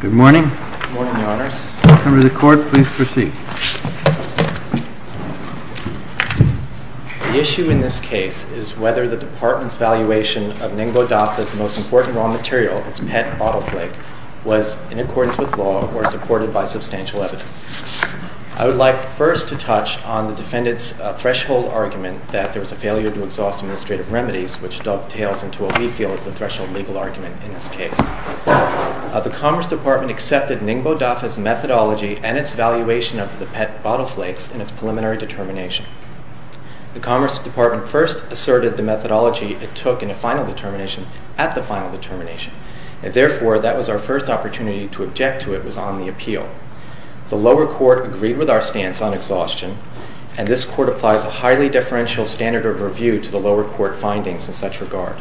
Good morning. Good morning, Your Honors. Members of the Court, please proceed. The issue in this case is whether the Department's valuation of Ningbo DAFA's most important raw material, its PET bottle flake, was in accordance with law or supported by substantial evidence. I would like first to touch on the defendant's threshold argument that there was a failure to exhaust administrative remedies, which dovetails into what we feel is the threshold legal argument in this case. The Commerce Department accepted Ningbo DAFA's methodology and its valuation of the PET bottle flakes in its preliminary determination. The Commerce Department first asserted the methodology it took in a final determination at the final determination, and therefore that was our first opportunity to object to it was on the appeal. The lower court agreed with our stance on exhaustion, and this Court applies a highly deferential standard of review to the lower court findings in such regard.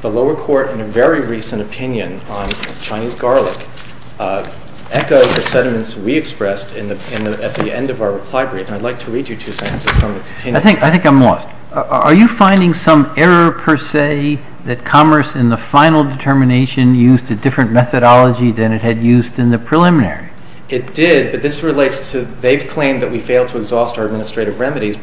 The lower court, in a very recent opinion on Chinese garlic, echoed the sentiments we expressed at the end of our reply brief, and I'd like to read you two sentences from its opinion. I think I'm lost. Are you finding some error, per se, that Commerce, in the final determination, used a different methodology than it had used in the preliminary? It did, but this relates to they've claimed that we failed to exhaust our administrative determination,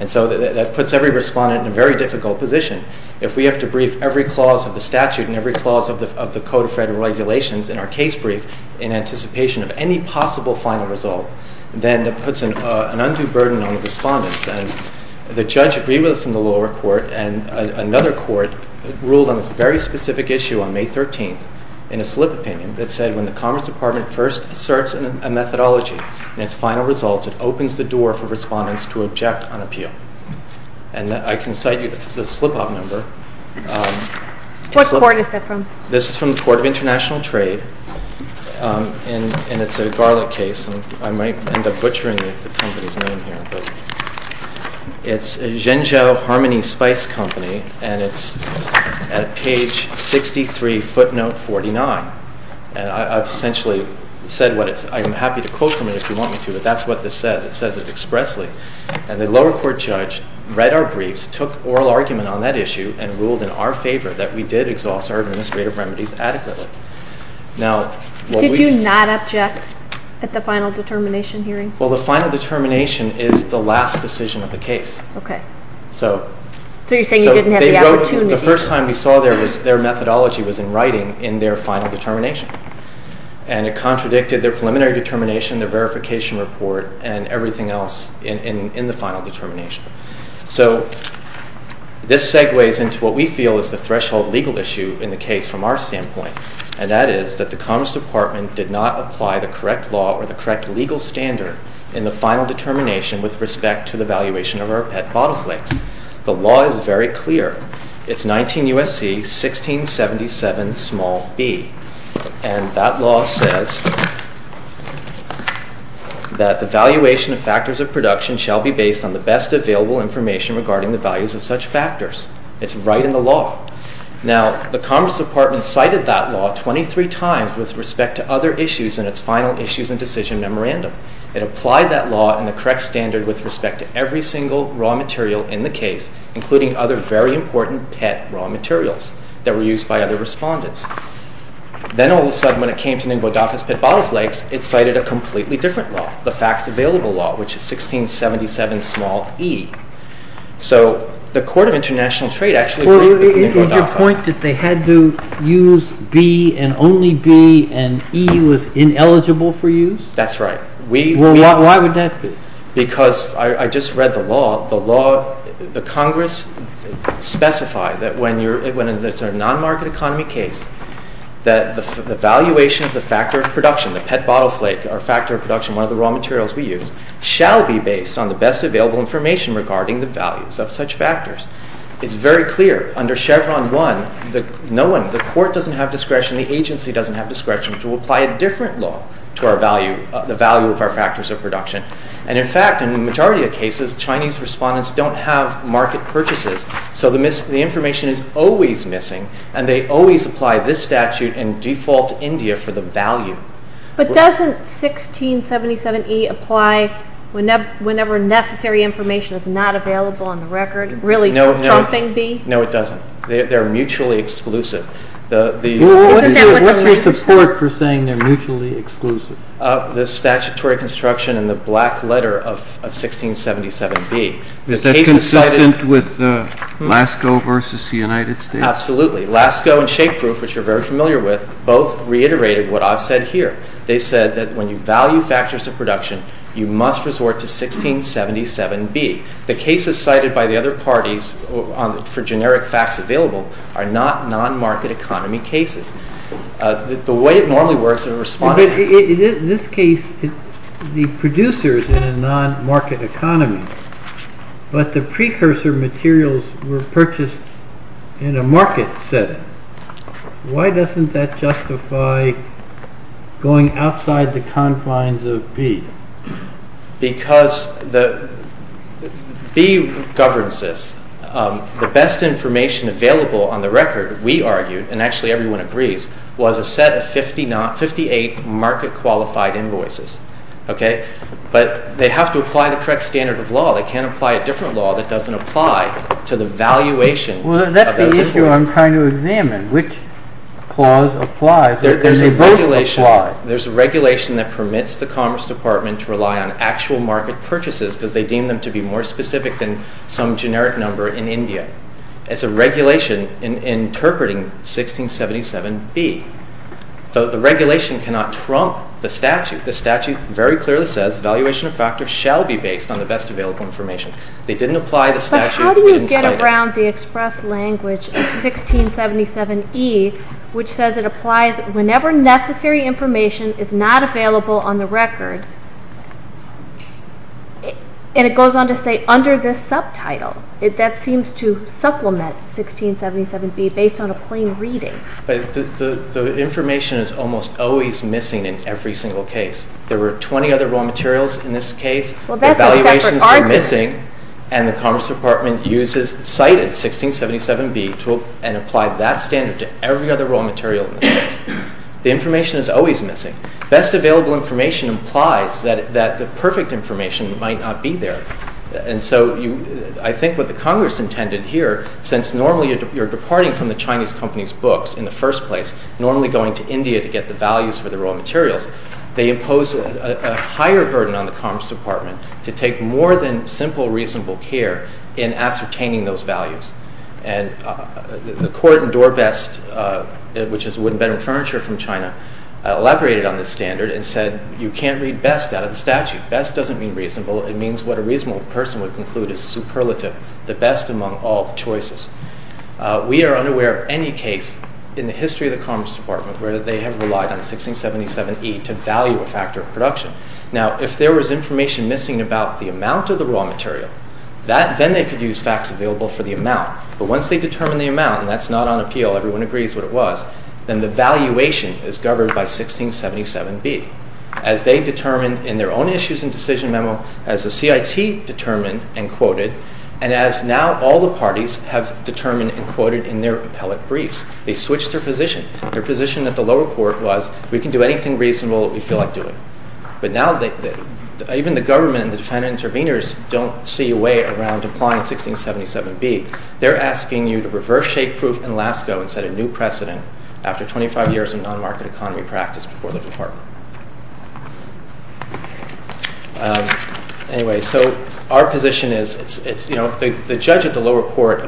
and so that puts every respondent in a very difficult position. If we have to brief every clause of the statute and every clause of the Code of Federal Regulations in our case brief in anticipation of any possible final result, then that puts an undue burden on the respondents, and the judge agreed with us in the lower court, and another court ruled on this very specific issue on May 13th, in a slip opinion, that said when the Commerce Department first asserts a methodology in its final results, it opens the door for respondents to object on appeal, and I can cite you the slip-up number. What court is that from? This is from the Court of International Trade, and it's a garlic case, and I might end up butchering the company's name here, but it's Zhengzhou Harmony Spice Company, and it's at page 63, footnote 49, and I've essentially said what it's, I'm happy to quote from it if you want me to, but that's what this says. It says it expressly, and the lower court judge read our briefs, took oral argument on that issue, and ruled in our favor that we did exhaust our administrative remedies adequately. Now, what we... Did you not object at the final determination hearing? Well, the final determination is the last decision of the case. Okay. So... So you're saying you didn't have the opportunity... So they wrote... The first time we saw their methodology was in writing in their final determination, and it contradicted their preliminary determination, their verification report, and everything else in the final determination. So this segues into what we feel is the threshold legal issue in the case from our standpoint, and that is that the Commerce Department did not apply the correct law or the correct legal standard in the final determination with respect to the valuation of our pet bottle flicks. The law is very clear. It's 19 U.S.C. 1677 b, and that law says that the valuation of factors of production shall be based on the best available information regarding the values of such factors. It's right in the law. Now, the Commerce Department cited that law 23 times with respect to other issues in its final issues and decision memorandum. It applied that law and the correct standard with respect to every single raw material in the case, including other very important pet raw materials that were used by other respondents. Then, all of a sudden, when it came to Ningbo Dafa's pet bottle flicks, it cited a completely different law, the facts available law, which is 1677 e. So the Court of International Trade actually agreed with Ningbo Dafa. Is your point that they had to use b and only b and e was ineligible for use? That's right. We... Well, why would that be? Because I just read the law. The law... The Congress specified that when it's a non-market economy case, that the valuation of the factor of production, the pet bottle flick, or factor of production, one of the raw materials we use, shall be based on the best available information regarding the values of such factors. It's very clear under Chevron 1 that no one, the Court doesn't have discretion, the agency doesn't have discretion to apply a different law to our value, the value of our factors of production. And in fact, in the majority of cases, Chinese respondents don't have market purchases. So the information is always missing and they always apply this statute in default India for the value. But doesn't 1677 e apply whenever necessary information is not available on the record, really trumping b? No, it doesn't. They're mutually exclusive. What's your support for saying they're mutually exclusive? The statutory construction and the black letter of 1677 b. Is that consistent with LASCO versus the United States? Absolutely. LASCO and Shapeproof, which you're very familiar with, both reiterated what I've said here. They said that when you value factors of production, you must resort to 1677 b. The cases cited by the other parties for generic facts available are not non-market economy cases. The way it normally works, in this case, the producer is in a non-market economy, but the precursor materials were purchased in a market setting. Why doesn't that justify going outside the confines of b? Because b governs this, the best information available on the record, we argued, and actually everyone agrees, was a set of 58 market-qualified invoices, but they have to apply the correct standard of law. They can't apply a different law that doesn't apply to the valuation of those invoices. Well, that's the issue I'm trying to examine, which clause applies, and they both apply. There's a regulation that permits the Commerce Department to rely on actual market purchases because they deem them to be more specific than some generic number in India. It's a regulation interpreting 1677 b. The regulation cannot trump the statute. The statute very clearly says valuation of factors shall be based on the best available information. They didn't apply the statute. But how do you get around the express language of 1677 e, which says it applies whenever necessary information is not available on the record, and it goes on to say under this statute, supplement 1677 b based on a plain reading? The information is almost always missing in every single case. There were 20 other raw materials in this case. Well, that's a separate argument. Evaluations were missing, and the Commerce Department cited 1677 b and applied that standard to every other raw material in this case. The information is always missing. Best available information implies that the perfect information might not be there. And so I think what the Congress intended here, since normally you're departing from the Chinese company's books in the first place, normally going to India to get the values for the raw materials, they impose a higher burden on the Commerce Department to take more than simple reasonable care in ascertaining those values. And the court in Dorbest, which is a wooden bedroom furniture from China, elaborated on this standard and said you can't read best out of the statute. Best doesn't mean reasonable. It means what a reasonable person would conclude is superlative, the best among all choices. We are unaware of any case in the history of the Commerce Department where they have relied on 1677 e to value a factor of production. Now if there was information missing about the amount of the raw material, then they could use facts available for the amount, but once they determine the amount, and that's not on appeal, everyone agrees what it was, then the valuation is governed by 1677 b. As they determined in their own issues and decision memo, as the CIT determined and quoted, and as now all the parties have determined and quoted in their appellate briefs, they switched their position. Their position at the lower court was we can do anything reasonable that we feel like doing. But now even the government and the defendant intervenors don't see a way around applying 1677 b. They're asking you to reverse shake proof in LASCO and set a new precedent after 25 years of non-market economy practice before the department. So our position is the judge at the lower court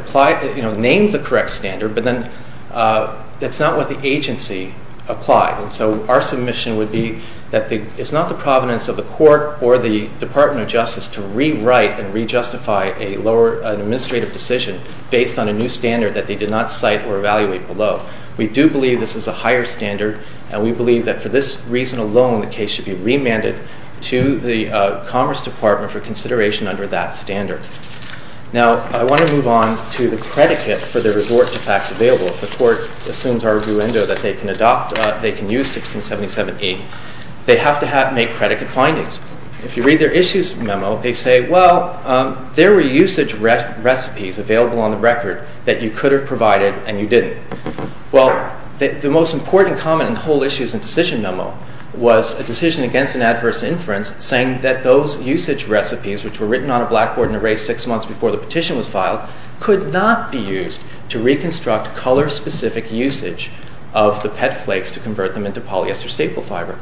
named the correct standard, but then it's not what the agency applied. So our submission would be that it's not the providence of the court or the Department of Justice to rewrite and re-justify an administrative decision based on a new standard that they did not cite or evaluate below. We do believe this is a higher standard, and we believe that for this reason alone, the case should be remanded to the Commerce Department for consideration under that standard. Now, I want to move on to the predicate for the resort to facts available. If the court assumes arguendo that they can adopt, they can use 1677 e, they have to make predicate findings. If you read their issues memo, they say, well, there were usage recipes available on the record that you could have provided and you didn't. Well, the most important comment in the whole issues and decision memo was a decision against an adverse inference saying that those usage recipes, which were written on a blackboard and erased six months before the petition was filed, could not be used to reconstruct color-specific usage of the pet flakes to convert them into polyester staple fiber.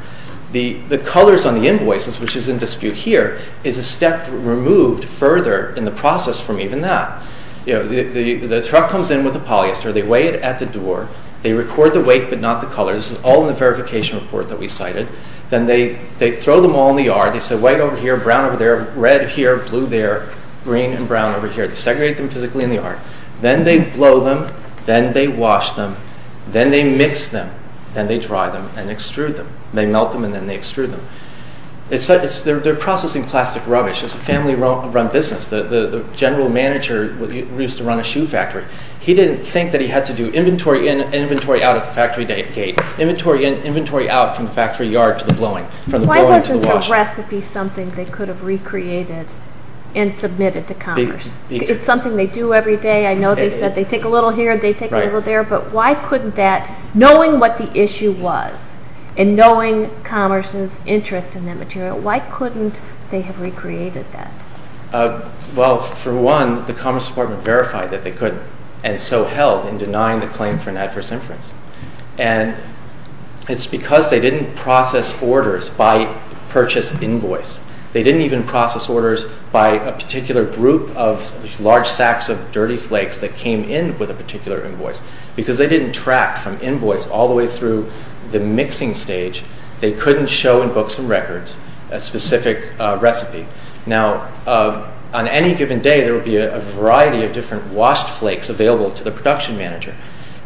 The colors on the invoices, which is in dispute here, is a step removed further in the process from even that. You know, the truck comes in with the polyester. They weigh it at the door. They record the weight, but not the color. This is all in the verification report that we cited. Then they throw them all in the yard. They say white over here, brown over there, red here, blue there, green and brown over here. They segregate them physically in the yard. Then they blow them. Then they wash them. Then they mix them. Then they dry them and extrude them. They melt them and then they extrude them. They're processing plastic rubbish. It's a family-run business. The general manager used to run a shoe factory. He didn't think that he had to do inventory in and inventory out at the factory gate. Inventory in, inventory out from the factory yard to the blowing. Why wasn't the recipe something they could have recreated and submitted to Commerce? It's something they do every day. I know they said they take a little here, they take a little there. But why couldn't that, knowing what the issue was and knowing Commerce's interest in that material, why couldn't they have recreated that? Well, for one, the Commerce Department verified that they could and so held in denying the claim for an adverse inference. And it's because they didn't process orders by purchase invoice. They didn't even process orders by a particular group of large sacks of dirty flakes that came in with a particular invoice because they didn't track from invoice all the way through the mixing stage. They couldn't show in books and records a specific recipe. Now, on any given day, there will be a variety of different washed flakes available to the production manager.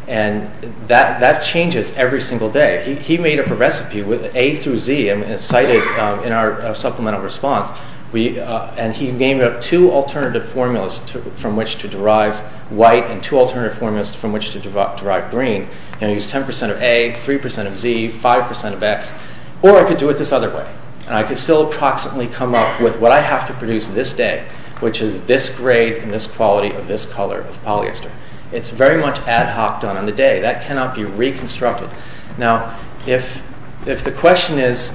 And that changes every single day. He made up a recipe with A through Z and cited in our supplemental response. And he named up two alternative formulas from which to derive white and two alternative formulas from which to derive green. And he used 10 percent of A, 3 percent of Z, 5 percent of X. Or I could do it this other way. And I could still approximately come up with what I have to produce this day, which is this grade and this quality of this color of polyester. It's very much ad hoc done on the day. That cannot be reconstructed. Now, if if the question is,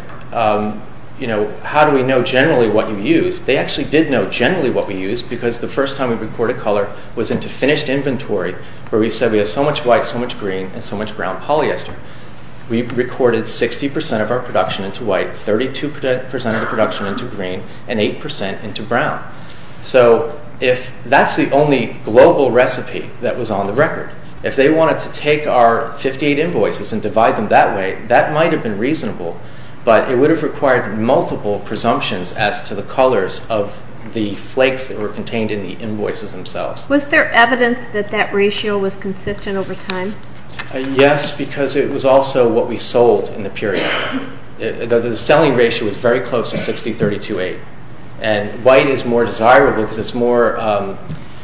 you know, how do we know generally what you use? They actually did know generally what we use because the first time we record a color was into finished inventory where we said we have so much white, so much green and so much brown polyester. We recorded 60 percent of our production into white. Thirty two percent of the production into green and eight percent into brown. So if that's the only global recipe that was on the record, if they wanted to take our 58 invoices and divide them that way, that might have been reasonable, but it would have required multiple presumptions as to the colors of the flakes that were contained in the invoices themselves. Was there evidence that that ratio was consistent over time? Yes, because it was also what we sold in the period. The selling ratio was very close to 60, 30 to eight. And white is more desirable because it's more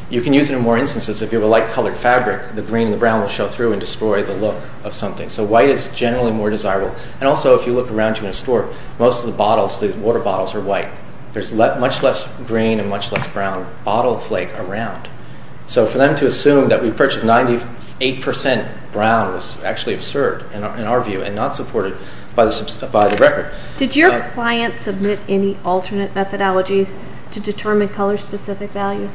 you can use it in more instances. If you have a light colored fabric, the green and brown will show through and destroy the look of something. So white is generally more desirable. And also, if you look around you in a store, most of the bottles, the water bottles are white. There's much less green and much less brown bottle flake around. So for them to assume that we purchased 98 percent brown was actually absurd in our view and not supported by the record. Did your client submit any alternate methodologies to determine color specific values?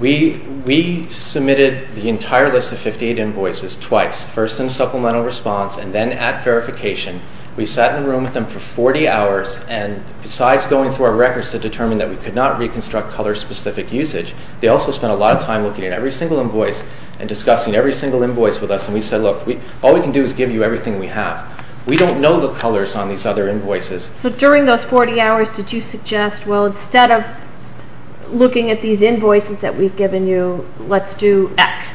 We submitted the entire list of 58 invoices twice, first in supplemental response and then at verification. We sat in a room with them for 40 hours. And besides going through our records to determine that we could not reconstruct color specific usage, they also spent a lot of time looking at every single invoice and discussing every single invoice with us. And we said, look, all we can do is give you everything we have. We don't know the colors on these other invoices. So during those 40 hours, did you suggest, well, instead of looking at these invoices that we've given you, let's do X.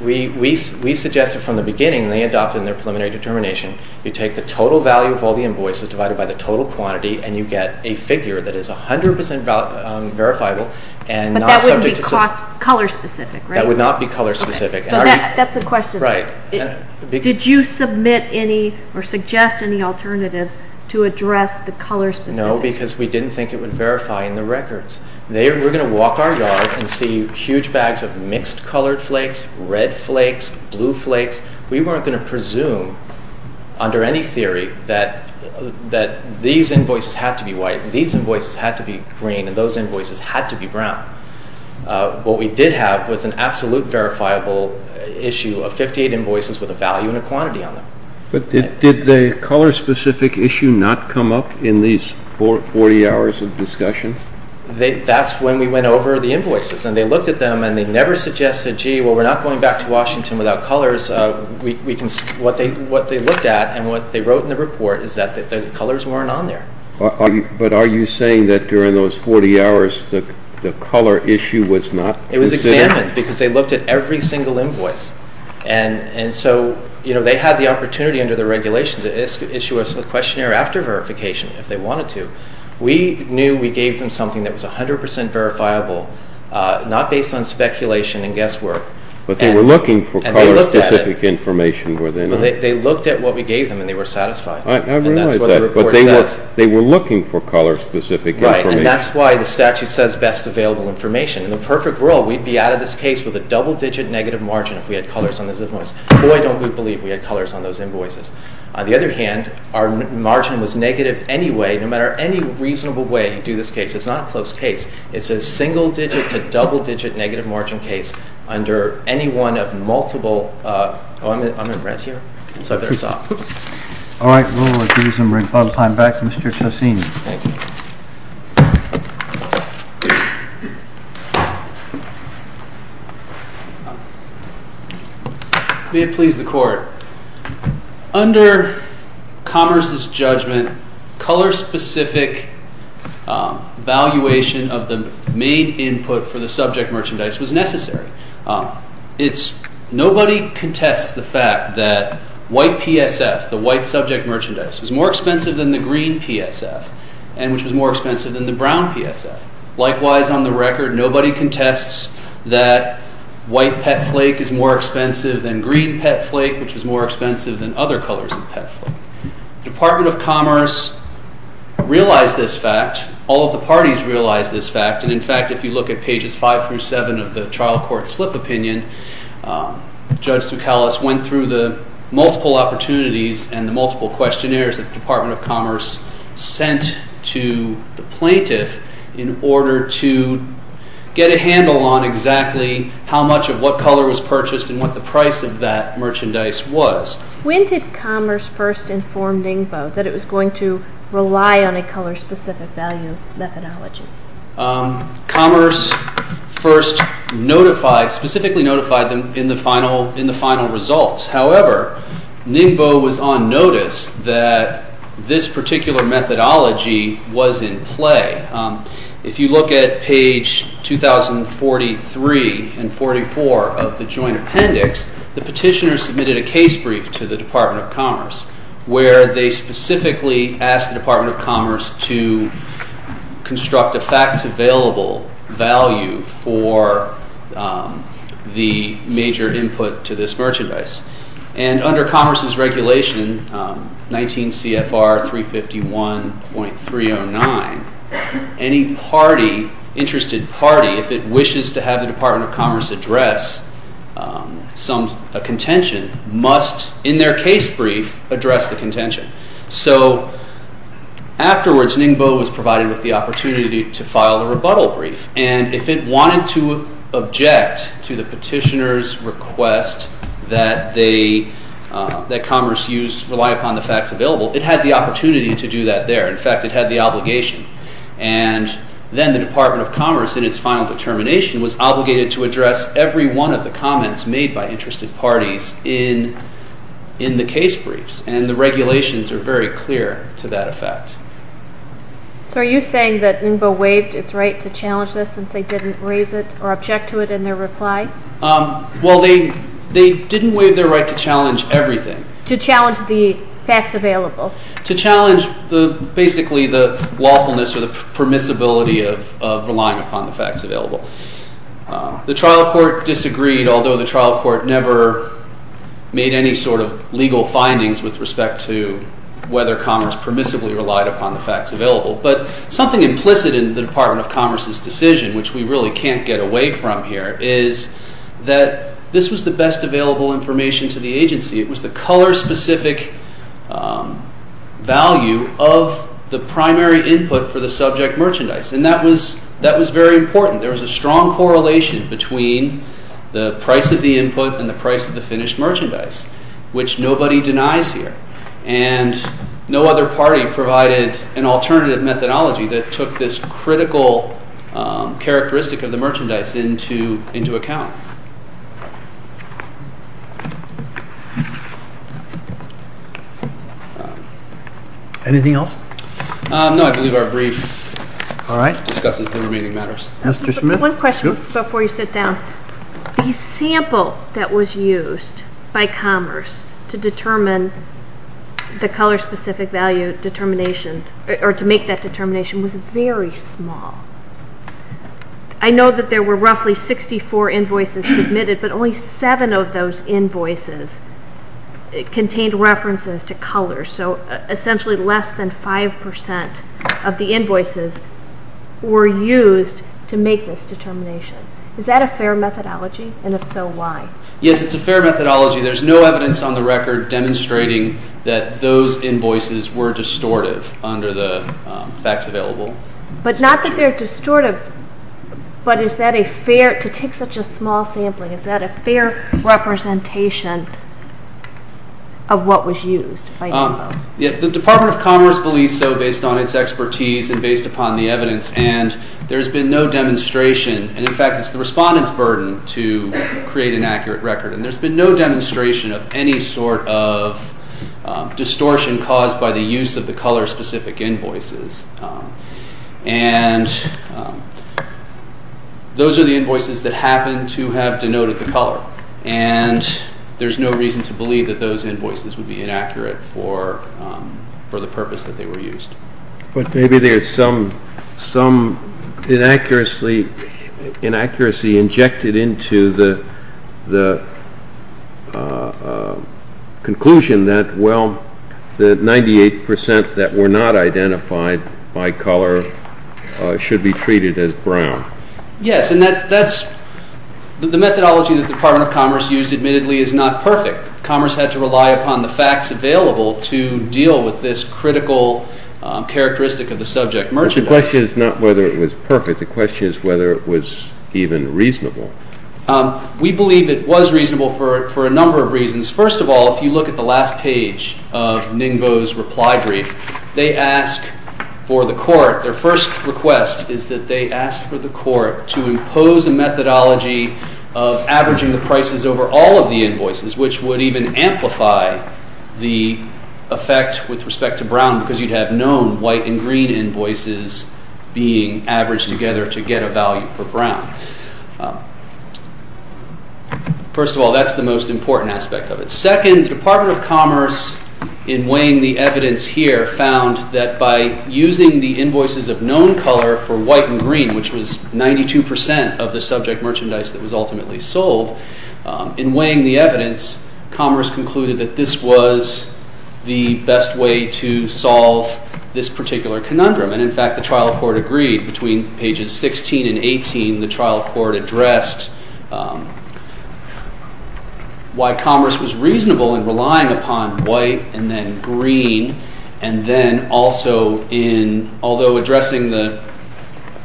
We suggested from the beginning they adopted in their preliminary determination, you take the total value of all the invoices divided by the total quantity and you get a figure that is 100 percent verifiable and not subject to color specific. That would not be color specific. That's the question. Right. Did you submit any or suggest any alternatives to address the color? No, because we didn't think it would verify in the records. They were going to walk our yard and see huge bags of mixed colored flakes, red flakes, blue flakes. We weren't going to presume under any theory that that these invoices had to be white. These invoices had to be green and those invoices had to be brown. What we did have was an absolute verifiable issue of 58 invoices with a value and a quantity on them. But did the color specific issue not come up in these 40 hours of discussion? That's when we went over the invoices and they looked at them and they never suggested, gee, well, we're not going back to Washington without colors. What they looked at and what they wrote in the report is that the colors weren't on there. But are you saying that during those 40 hours the color issue was not considered? It was examined because they looked at every single invoice and so, you know, they had the opportunity under the regulation to issue us a questionnaire after verification if they wanted to. We knew we gave them something that was 100% verifiable, not based on speculation and guesswork. But they were looking for color specific information were they not? They looked at what we gave them and they were satisfied. I realize that. And that's what the report says. They were looking for color specific information. Right. And that's why the statute says best available information. In the perfect world, we'd be out of this case with a double digit negative margin if we had colors on those invoices. Boy, don't we believe we had colors on those invoices. On the other hand, our margin was negative anyway, no matter any reasonable way you do this case. It's not a close case. It's a single digit to double digit negative margin case under any one of multiple, oh, I'm in red here, so I better stop. All right, we'll recuse and bring club time back to Mr. Tosini. Thank you. May it please the court. Under Commerce's judgment, color specific valuation of the main input for the subject merchandise was necessary. Nobody contests the fact that white PSF, the white subject merchandise, was more expensive than the green PSF, and which was more expensive than the brown PSF. Likewise, on the record, nobody contests that white pet flake is more expensive than green pet flake, which is more expensive than other colors of pet flake. Department of Commerce realized this fact. All of the parties realized this fact. And in fact, if you look at pages five through seven of the trial court slip opinion, Judge Tukalos went through the multiple opportunities and the multiple questionnaires that the Department of Commerce sent to the plaintiff in order to get a handle on exactly how much of what color was purchased and what the price of that merchandise was. When did Commerce first inform Ningbo that it was going to rely on a color specific value methodology? Commerce first notified, specifically notified them in the final results. However, Ningbo was on notice that this particular methodology was in play. If you look at page 2043 and 44 of the joint appendix, the petitioner submitted a case brief to the Department of Commerce where they specifically asked the Department of Commerce to construct a facts available value for the major input to this merchandise. And under Commerce's regulation, 19 CFR 351.309, any party, interested party, if it wishes to have the Department of Commerce address some, a contention, must in their case brief address the contention. So afterwards, Ningbo was provided with the opportunity to file a rebuttal brief. And if it wanted to object to the petitioner's request that they, that Commerce use, rely upon the facts available, it had the opportunity to do that there. In fact, it had the obligation. And then the Department of Commerce in its final determination was obligated to address every one of the comments made by interested parties in the case briefs. And the regulations are very clear to that effect. So are you saying that Ningbo waived its right to challenge this since they didn't raise it or object to it in their reply? Well, they didn't waive their right to challenge everything. To challenge the facts available. To challenge the, basically the lawfulness or the permissibility of relying upon the facts available. The trial court disagreed, although the trial court never made any sort of legal findings with respect to whether Commerce permissibly relied upon the facts available. But something implicit in the Department of Commerce's decision, which we really can't get away from here, is that this was the best available information to the agency. It was the color-specific value of the primary input for the subject merchandise. And that was, that was very important. There was a strong correlation between the price of the input and the price of the finished merchandise, which nobody denies here. And no other party provided an alternative methodology that took this critical characteristic of the merchandise into, into account. Anything else? No, I believe our brief discusses the remaining matters. Mr. Smith? One question before you sit down. The sample that was used by Commerce to determine the color-specific value determination, or to make that determination, was very small. I know that there were roughly 64 invoices submitted, but only seven of those invoices contained references to color. So essentially less than 5% of the invoices were used to make this determination. Is that a fair methodology? And if so, why? Yes, it's a fair methodology. There's no evidence on the record demonstrating that those invoices were distortive under the facts available. But not that they're distortive, but is that a fair, to take such a small sampling, is that a fair representation of what was used? Yes, the Department of Commerce believes so based on its expertise and based upon the evidence. And there's been no demonstration, and in fact it's the respondent's burden to create an accurate record. And there's been no demonstration of any sort of distortion caused by the use of the color-specific invoices. And those are the invoices that happen to have denoted the color. And there's no reason to believe that those invoices would be inaccurate for the purpose that they were used. But maybe there's some inaccuracy injected into the conclusion that, well, that 98% that were not identified by color should be treated as brown. Yes, and that's, the methodology that the Department of Commerce used admittedly is not perfect. Commerce had to rely upon the facts available to deal with this critical characteristic of the subject merchandise. The question is not whether it was perfect. The question is whether it was even reasonable. We believe it was reasonable for a number of reasons. First of all, if you look at the last page of Ningbo's reply brief, they ask for the court, their first request is that they ask for the court to impose a methodology of averaging the prices over all of the invoices, which would even amplify the effect with respect to brown because you'd have known white and green invoices being averaged together to get a value for brown. First of all, that's the most important aspect of it. Second, the Department of Commerce in weighing the evidence here found that by using the invoices of known color for white and green, which was 92% of the subject merchandise that was ultimately sold, in weighing the evidence, Commerce concluded that this was the best way to solve this particular conundrum. And in fact, the trial court agreed between pages 16 and 18, the trial court addressed why Commerce was reasonable in relying upon white and then green and then also in, although addressing the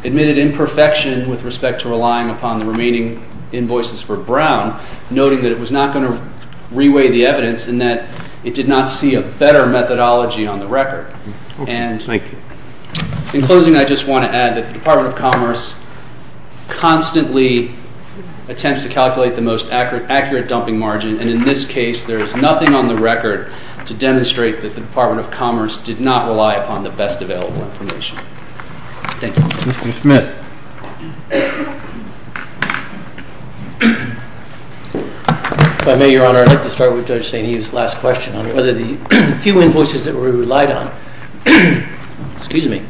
admitted imperfection with respect to relying upon the remaining invoices for brown, noting that it was not going to re-weigh the evidence and that it did not see a better methodology on the record. And in closing, I just want to add that the Department of Commerce constantly attempts to calculate the most accurate dumping margin and in this case, there's nothing on the record to demonstrate that the Department of Commerce did not rely upon the best available information. Thank you. Mr. Smith. If I may, Your Honor, I'd like to start with Judge St. Eve's last question on whether the few invoices that we relied on, excuse me,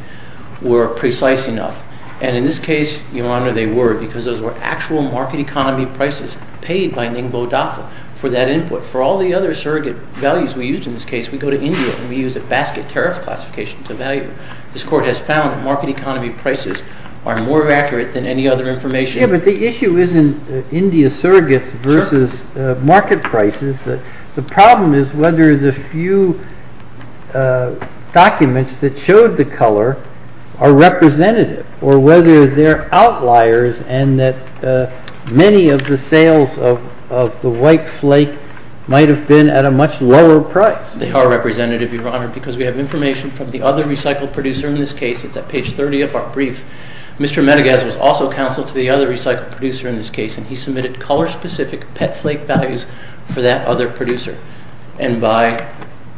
were precise enough. And in this case, Your Honor, they were because those were actual market economy prices paid by Ningbo Dafa for that input. For all the other surrogate values we used in this case, we go to India and we use a basket tariff classification to evaluate. This court has found that market economy prices are more accurate than any other information. Yeah, but the issue isn't India surrogates versus market prices. The problem is whether the few documents that showed the color are representative or whether they're outliers and that many of the sales of the white flake might have been at a much lower price. They are representative, Your Honor, because we have information from the other recycled producer in this case. It's at page 30 of our brief. Mr. Medegaz was also counsel to the other recycled producer in this case and he submitted color-specific pet flake values for that other producer. And by,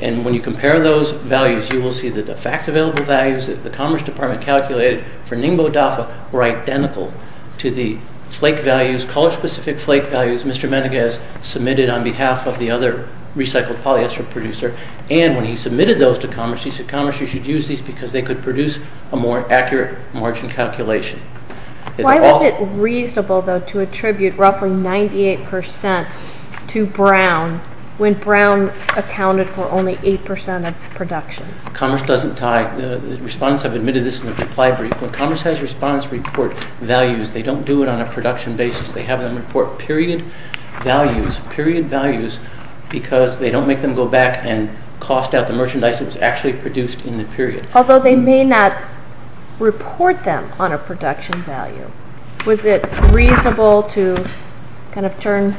and when you compare those values, you will see that the fax available values that the Commerce Department calculated for Ningbo Dafa were identical to the flake values, color-specific flake values Mr. Medegaz submitted on behalf of the other recycled polyester producer. And when he submitted those to Commerce, he said, Commerce, you should use these because they could produce a more accurate margin calculation. Why was it reasonable, though, to attribute roughly 98% to Brown when Brown accounted for only 8% of production? Commerce doesn't tie, the respondents have admitted this in the reply brief. When Commerce has respondents report values, they don't do it on a production basis. They have them report period values, period values, because they don't make them go back and cost out the merchandise that was actually produced in the period. Although they may not report them on a production value, was it reasonable to kind of turn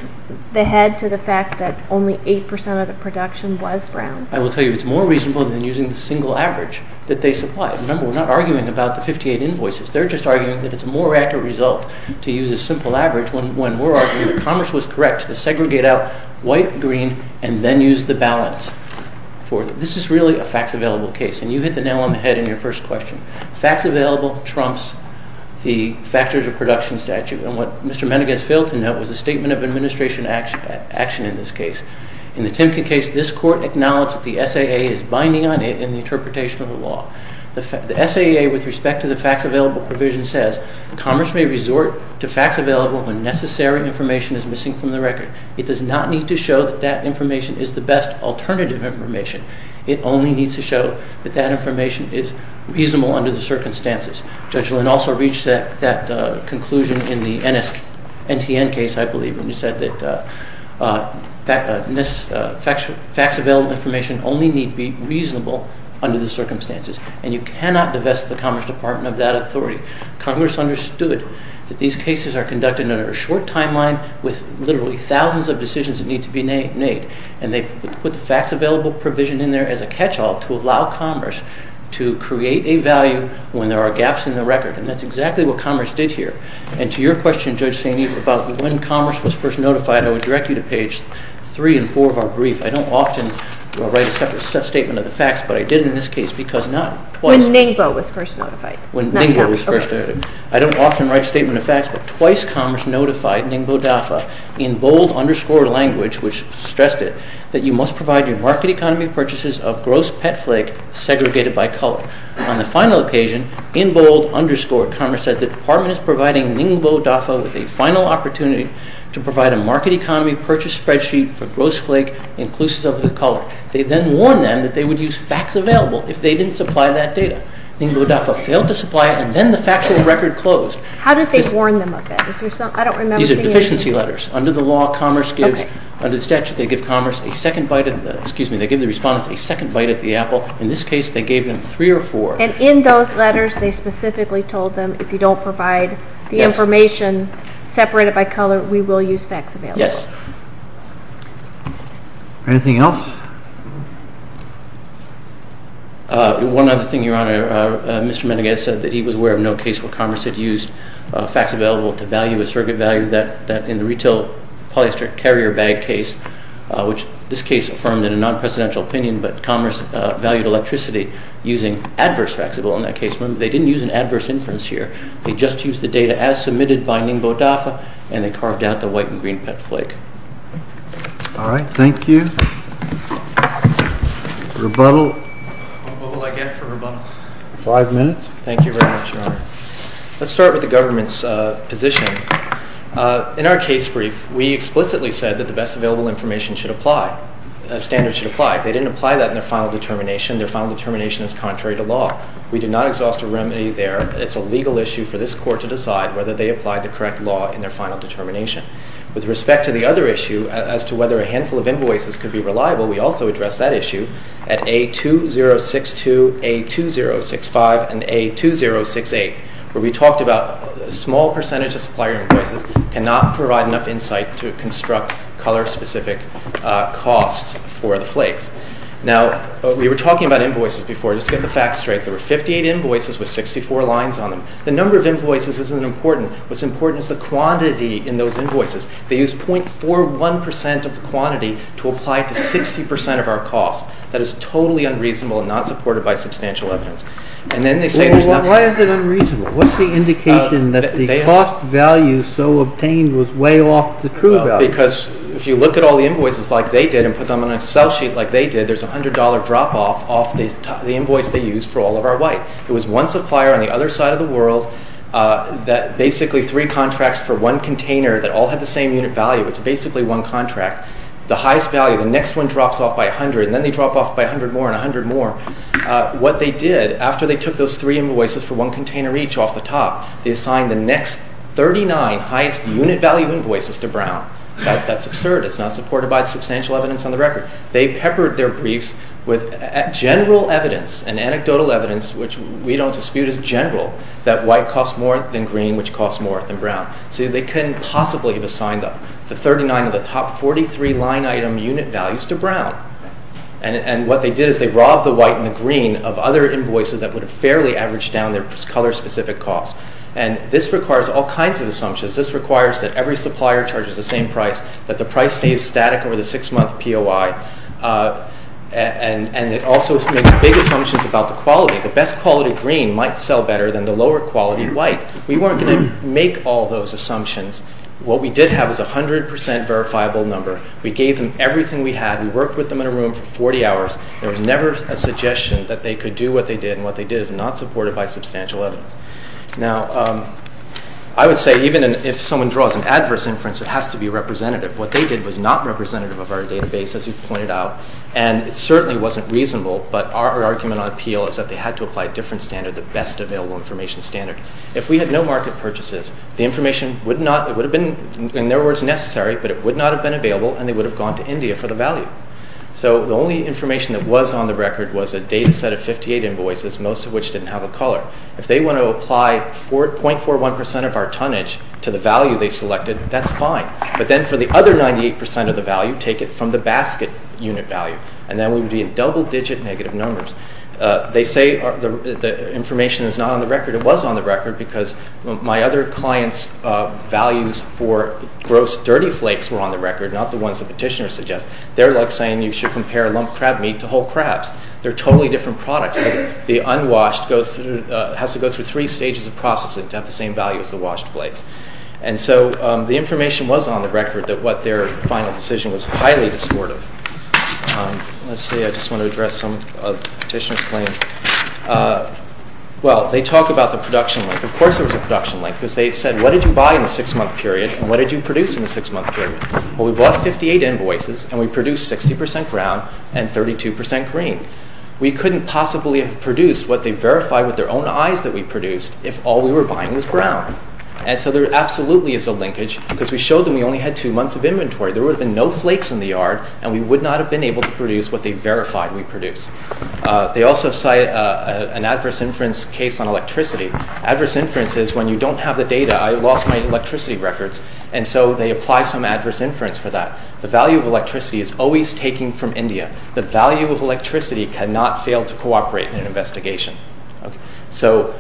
the head to the fact that only 8% of the production was Brown? I will tell you, it's more reasonable than using the single average that they supplied. Remember, we're not arguing about the 58 invoices. They're just arguing that it's a more accurate result to use a simple average when we're arguing that Commerce was correct to segregate out white, green, and then use the balance. This is really a fax available case. And you hit the nail on the head in your first question. Fax available trumps the factors of production statute. And what Mr. Medegaz failed to note was a statement of administration action in this case. In the Timken case, this court acknowledged that the SAA is binding on it in the interpretation of the law. The SAA with respect to the fax available provision says, Commerce may resort to fax available when necessary information is missing from the record. It does not need to show that that information is the best alternative information. It only needs to show that that information is reasonable under the circumstances. Judge Lynn also reached that conclusion in the NSNTN case, I believe, when he said that fax available information only need be reasonable under the circumstances. And you cannot divest the Commerce Department of that authority. Congress understood that these cases are conducted under a short timeline with literally thousands of decisions that need to be made. And they put the fax available provision in there as a catch-all to allow Commerce to create a value when there are gaps in the record. And that's exactly what Commerce did here. And to your question, Judge Saini, about when Commerce was first notified, I would direct you to page 3 and 4 of our brief. I don't often write a separate statement of the fax, but I did in this case because not twice. When Ningbo was first notified. When Ningbo was first notified. I don't often write a statement of fax, but twice Commerce notified Ningbo DAFA in bold underscore language, which stressed it, that you must provide your market economy purchases a gross pet flake segregated by color. On the final occasion, in bold underscore Commerce said the department is providing Ningbo DAFA with a final opportunity to provide a market economy purchase spreadsheet for gross flake inclusives of the color. They then warned them that they would use fax available if they didn't supply that data. Ningbo DAFA failed to supply it, and then the factual record closed. How did they warn them of it? I don't remember seeing it. These are deficiency letters. Under the law, Commerce gives, under the statute, they give Commerce a second bite, excuse me, they give the respondents a second bite at the apple. In this case, they gave them three or four. And in those letters, they specifically told them if you don't provide the information separated by color, we will use fax available. Yes. Anything else? One other thing, Your Honor. Mr. Meneghuez said that he was aware of no case where Commerce had used fax available to value a surrogate value that in the retail polyester carrier bag case, which this case affirmed in a non-presidential opinion, but Commerce valued electricity using adverse fax available in that case. Remember, they didn't use an adverse inference here. They just used the data as submitted by Ningbo DAFA, and they carved out the white and green pet flake. All right. Thank you. Rebuttal? What will I get for rebuttal? Five minutes. Thank you very much, Your Honor. Let's start with the government's position. In our case brief, we explicitly said that the best available information should apply, standards should apply. They didn't apply that in their final determination. Their final determination is contrary to law. We did not exhaust a remedy there. It's a legal issue for this court to decide whether they applied the correct law in their final determination. With respect to the other issue as to whether a handful of invoices could be reliable, we also addressed that issue at A2062, A2065, and A2068, where we talked about a small percentage of supplier invoices cannot provide enough insight to construct color-specific costs for the flakes. Now, we were talking about invoices before. Just to get the facts straight, there were 58 invoices with 64 lines on them. The number of invoices isn't important. What's important is the quantity in those invoices. They used 0.41% of the quantity to apply to 60% of our costs. That is totally unreasonable and not supported by substantial evidence. And then they say there's nothing. Why is it unreasonable? What's the indication that the cost value so obtained was way off the true value? Because if you look at all the invoices like they did and put them on a sell sheet like they did, there's a $100 drop-off off the invoice they used for all of our white. It was one supplier on the other side of the world that basically three contracts for one container that all had the same unit value. It's basically one contract. The highest value, the next one drops off by 100, and then they drop off by 100 more and 100 more. What they did after they took those three invoices for one container each off the top, they assigned the next 39 highest unit value invoices to Brown. That's absurd. It's not supported by substantial evidence on the record. They peppered their briefs with general evidence and anecdotal evidence which we don't dispute is general, that white costs more than green which costs more than brown. of the top 43 line item unit values to Brown. And what they did is they robbed the white and the green of other invoices that would have fairly averaged down their color-specific costs. And this requires all kinds of assumptions. This requires that every supplier charges the same price, that the price stays static over the six-month POI. And it also makes big assumptions about the quality. The best quality green might sell better than the lower quality white. We weren't going to make all those assumptions. What we did have is a 100% verifiable number. We gave them everything we had. We worked with them in a room for 40 hours. There was never a suggestion that they could do what they did and what they did is not supported by substantial evidence. Now, I would say even if someone draws an adverse inference, it has to be representative. What they did was not representative of our database as you pointed out. And it certainly wasn't reasonable, but our argument on appeal is that they had to apply a different standard, the best available information standard. If we had no market purchases, the information would not, it would have been, in their words, necessary, but it would not have been available and they would have gone to India for the value. So the only information that was on the record was a data set of 58 invoices, most of which didn't have a color. If they want to apply 0.41% of our tonnage to the value they selected, that's fine. But then for the other 98% of the value, take it from the basket unit value and then we would be in double digit negative numbers. They say the information is not on the record. It was on the record because my other client's values for gross dirty flakes were on the record, not the ones the petitioner suggests. They're like saying you should compare lump crab meat to whole crabs. They're totally different products. The unwashed goes through, has to go through three stages of processing to have the same value as the washed flakes. And so the information was on the record that what their final decision was highly disappointing. Let's see, I just want to address some of the petitioner's claims. Well, they talk about the production link. Of course there was a production link because they said what did you buy in the six-month period and what did you produce in the six-month period? Well, we bought 58 invoices and we produced 60% brown and 32% green. We couldn't possibly have produced what they verified with their own eyes that we produced if all we were buying was brown. And so there absolutely is a linkage because we showed them we only had two months of inventory. There would have been no flakes in the yard and we would not have been able to produce what they verified we produced. They also cite an adverse inference case on electricity. Adverse inference is when you don't have the data. I lost my electricity records and so they apply some adverse inference for that. The value of electricity is always taken from India. The value of electricity cannot fail to cooperate in an investigation. So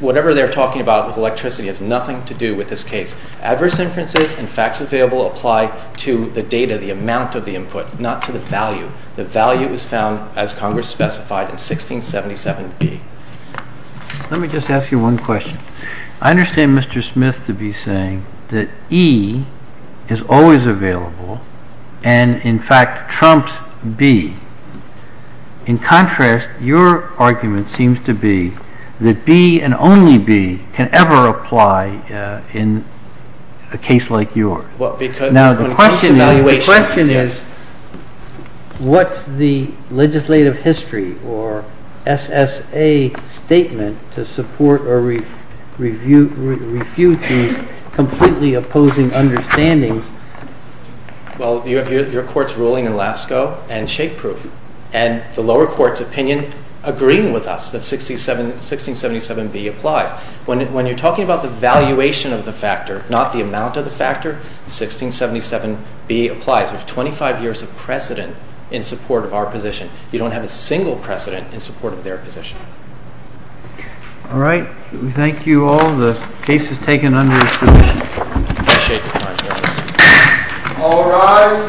whatever they're talking about with electricity has nothing to do with this case. Adverse inferences and facts available apply to the data, the amount of the input, not to the value. The value is found as Congress specified in 1677B. Let me just ask you one question. I understand Mr. Smith to be saying that E is always available and in fact trumps B. In contrast, your argument seems to be that B and only B can ever apply in a case like yours. Now the question is, what's the legislative history or SSA statement to support or refute these completely opposing understandings? Well, you have your court's ruling in Lascaux and shake proof and the lower court's opinion agreeing with us that 1677B applies. When you're talking about the valuation of the factor, not the amount of the factor, 1677B applies with 25 years of precedent in support of our position. You don't have a single precedent in support of their position. All right, we thank you all. The case is taken under restriction. I appreciate your time, Justice. All rise.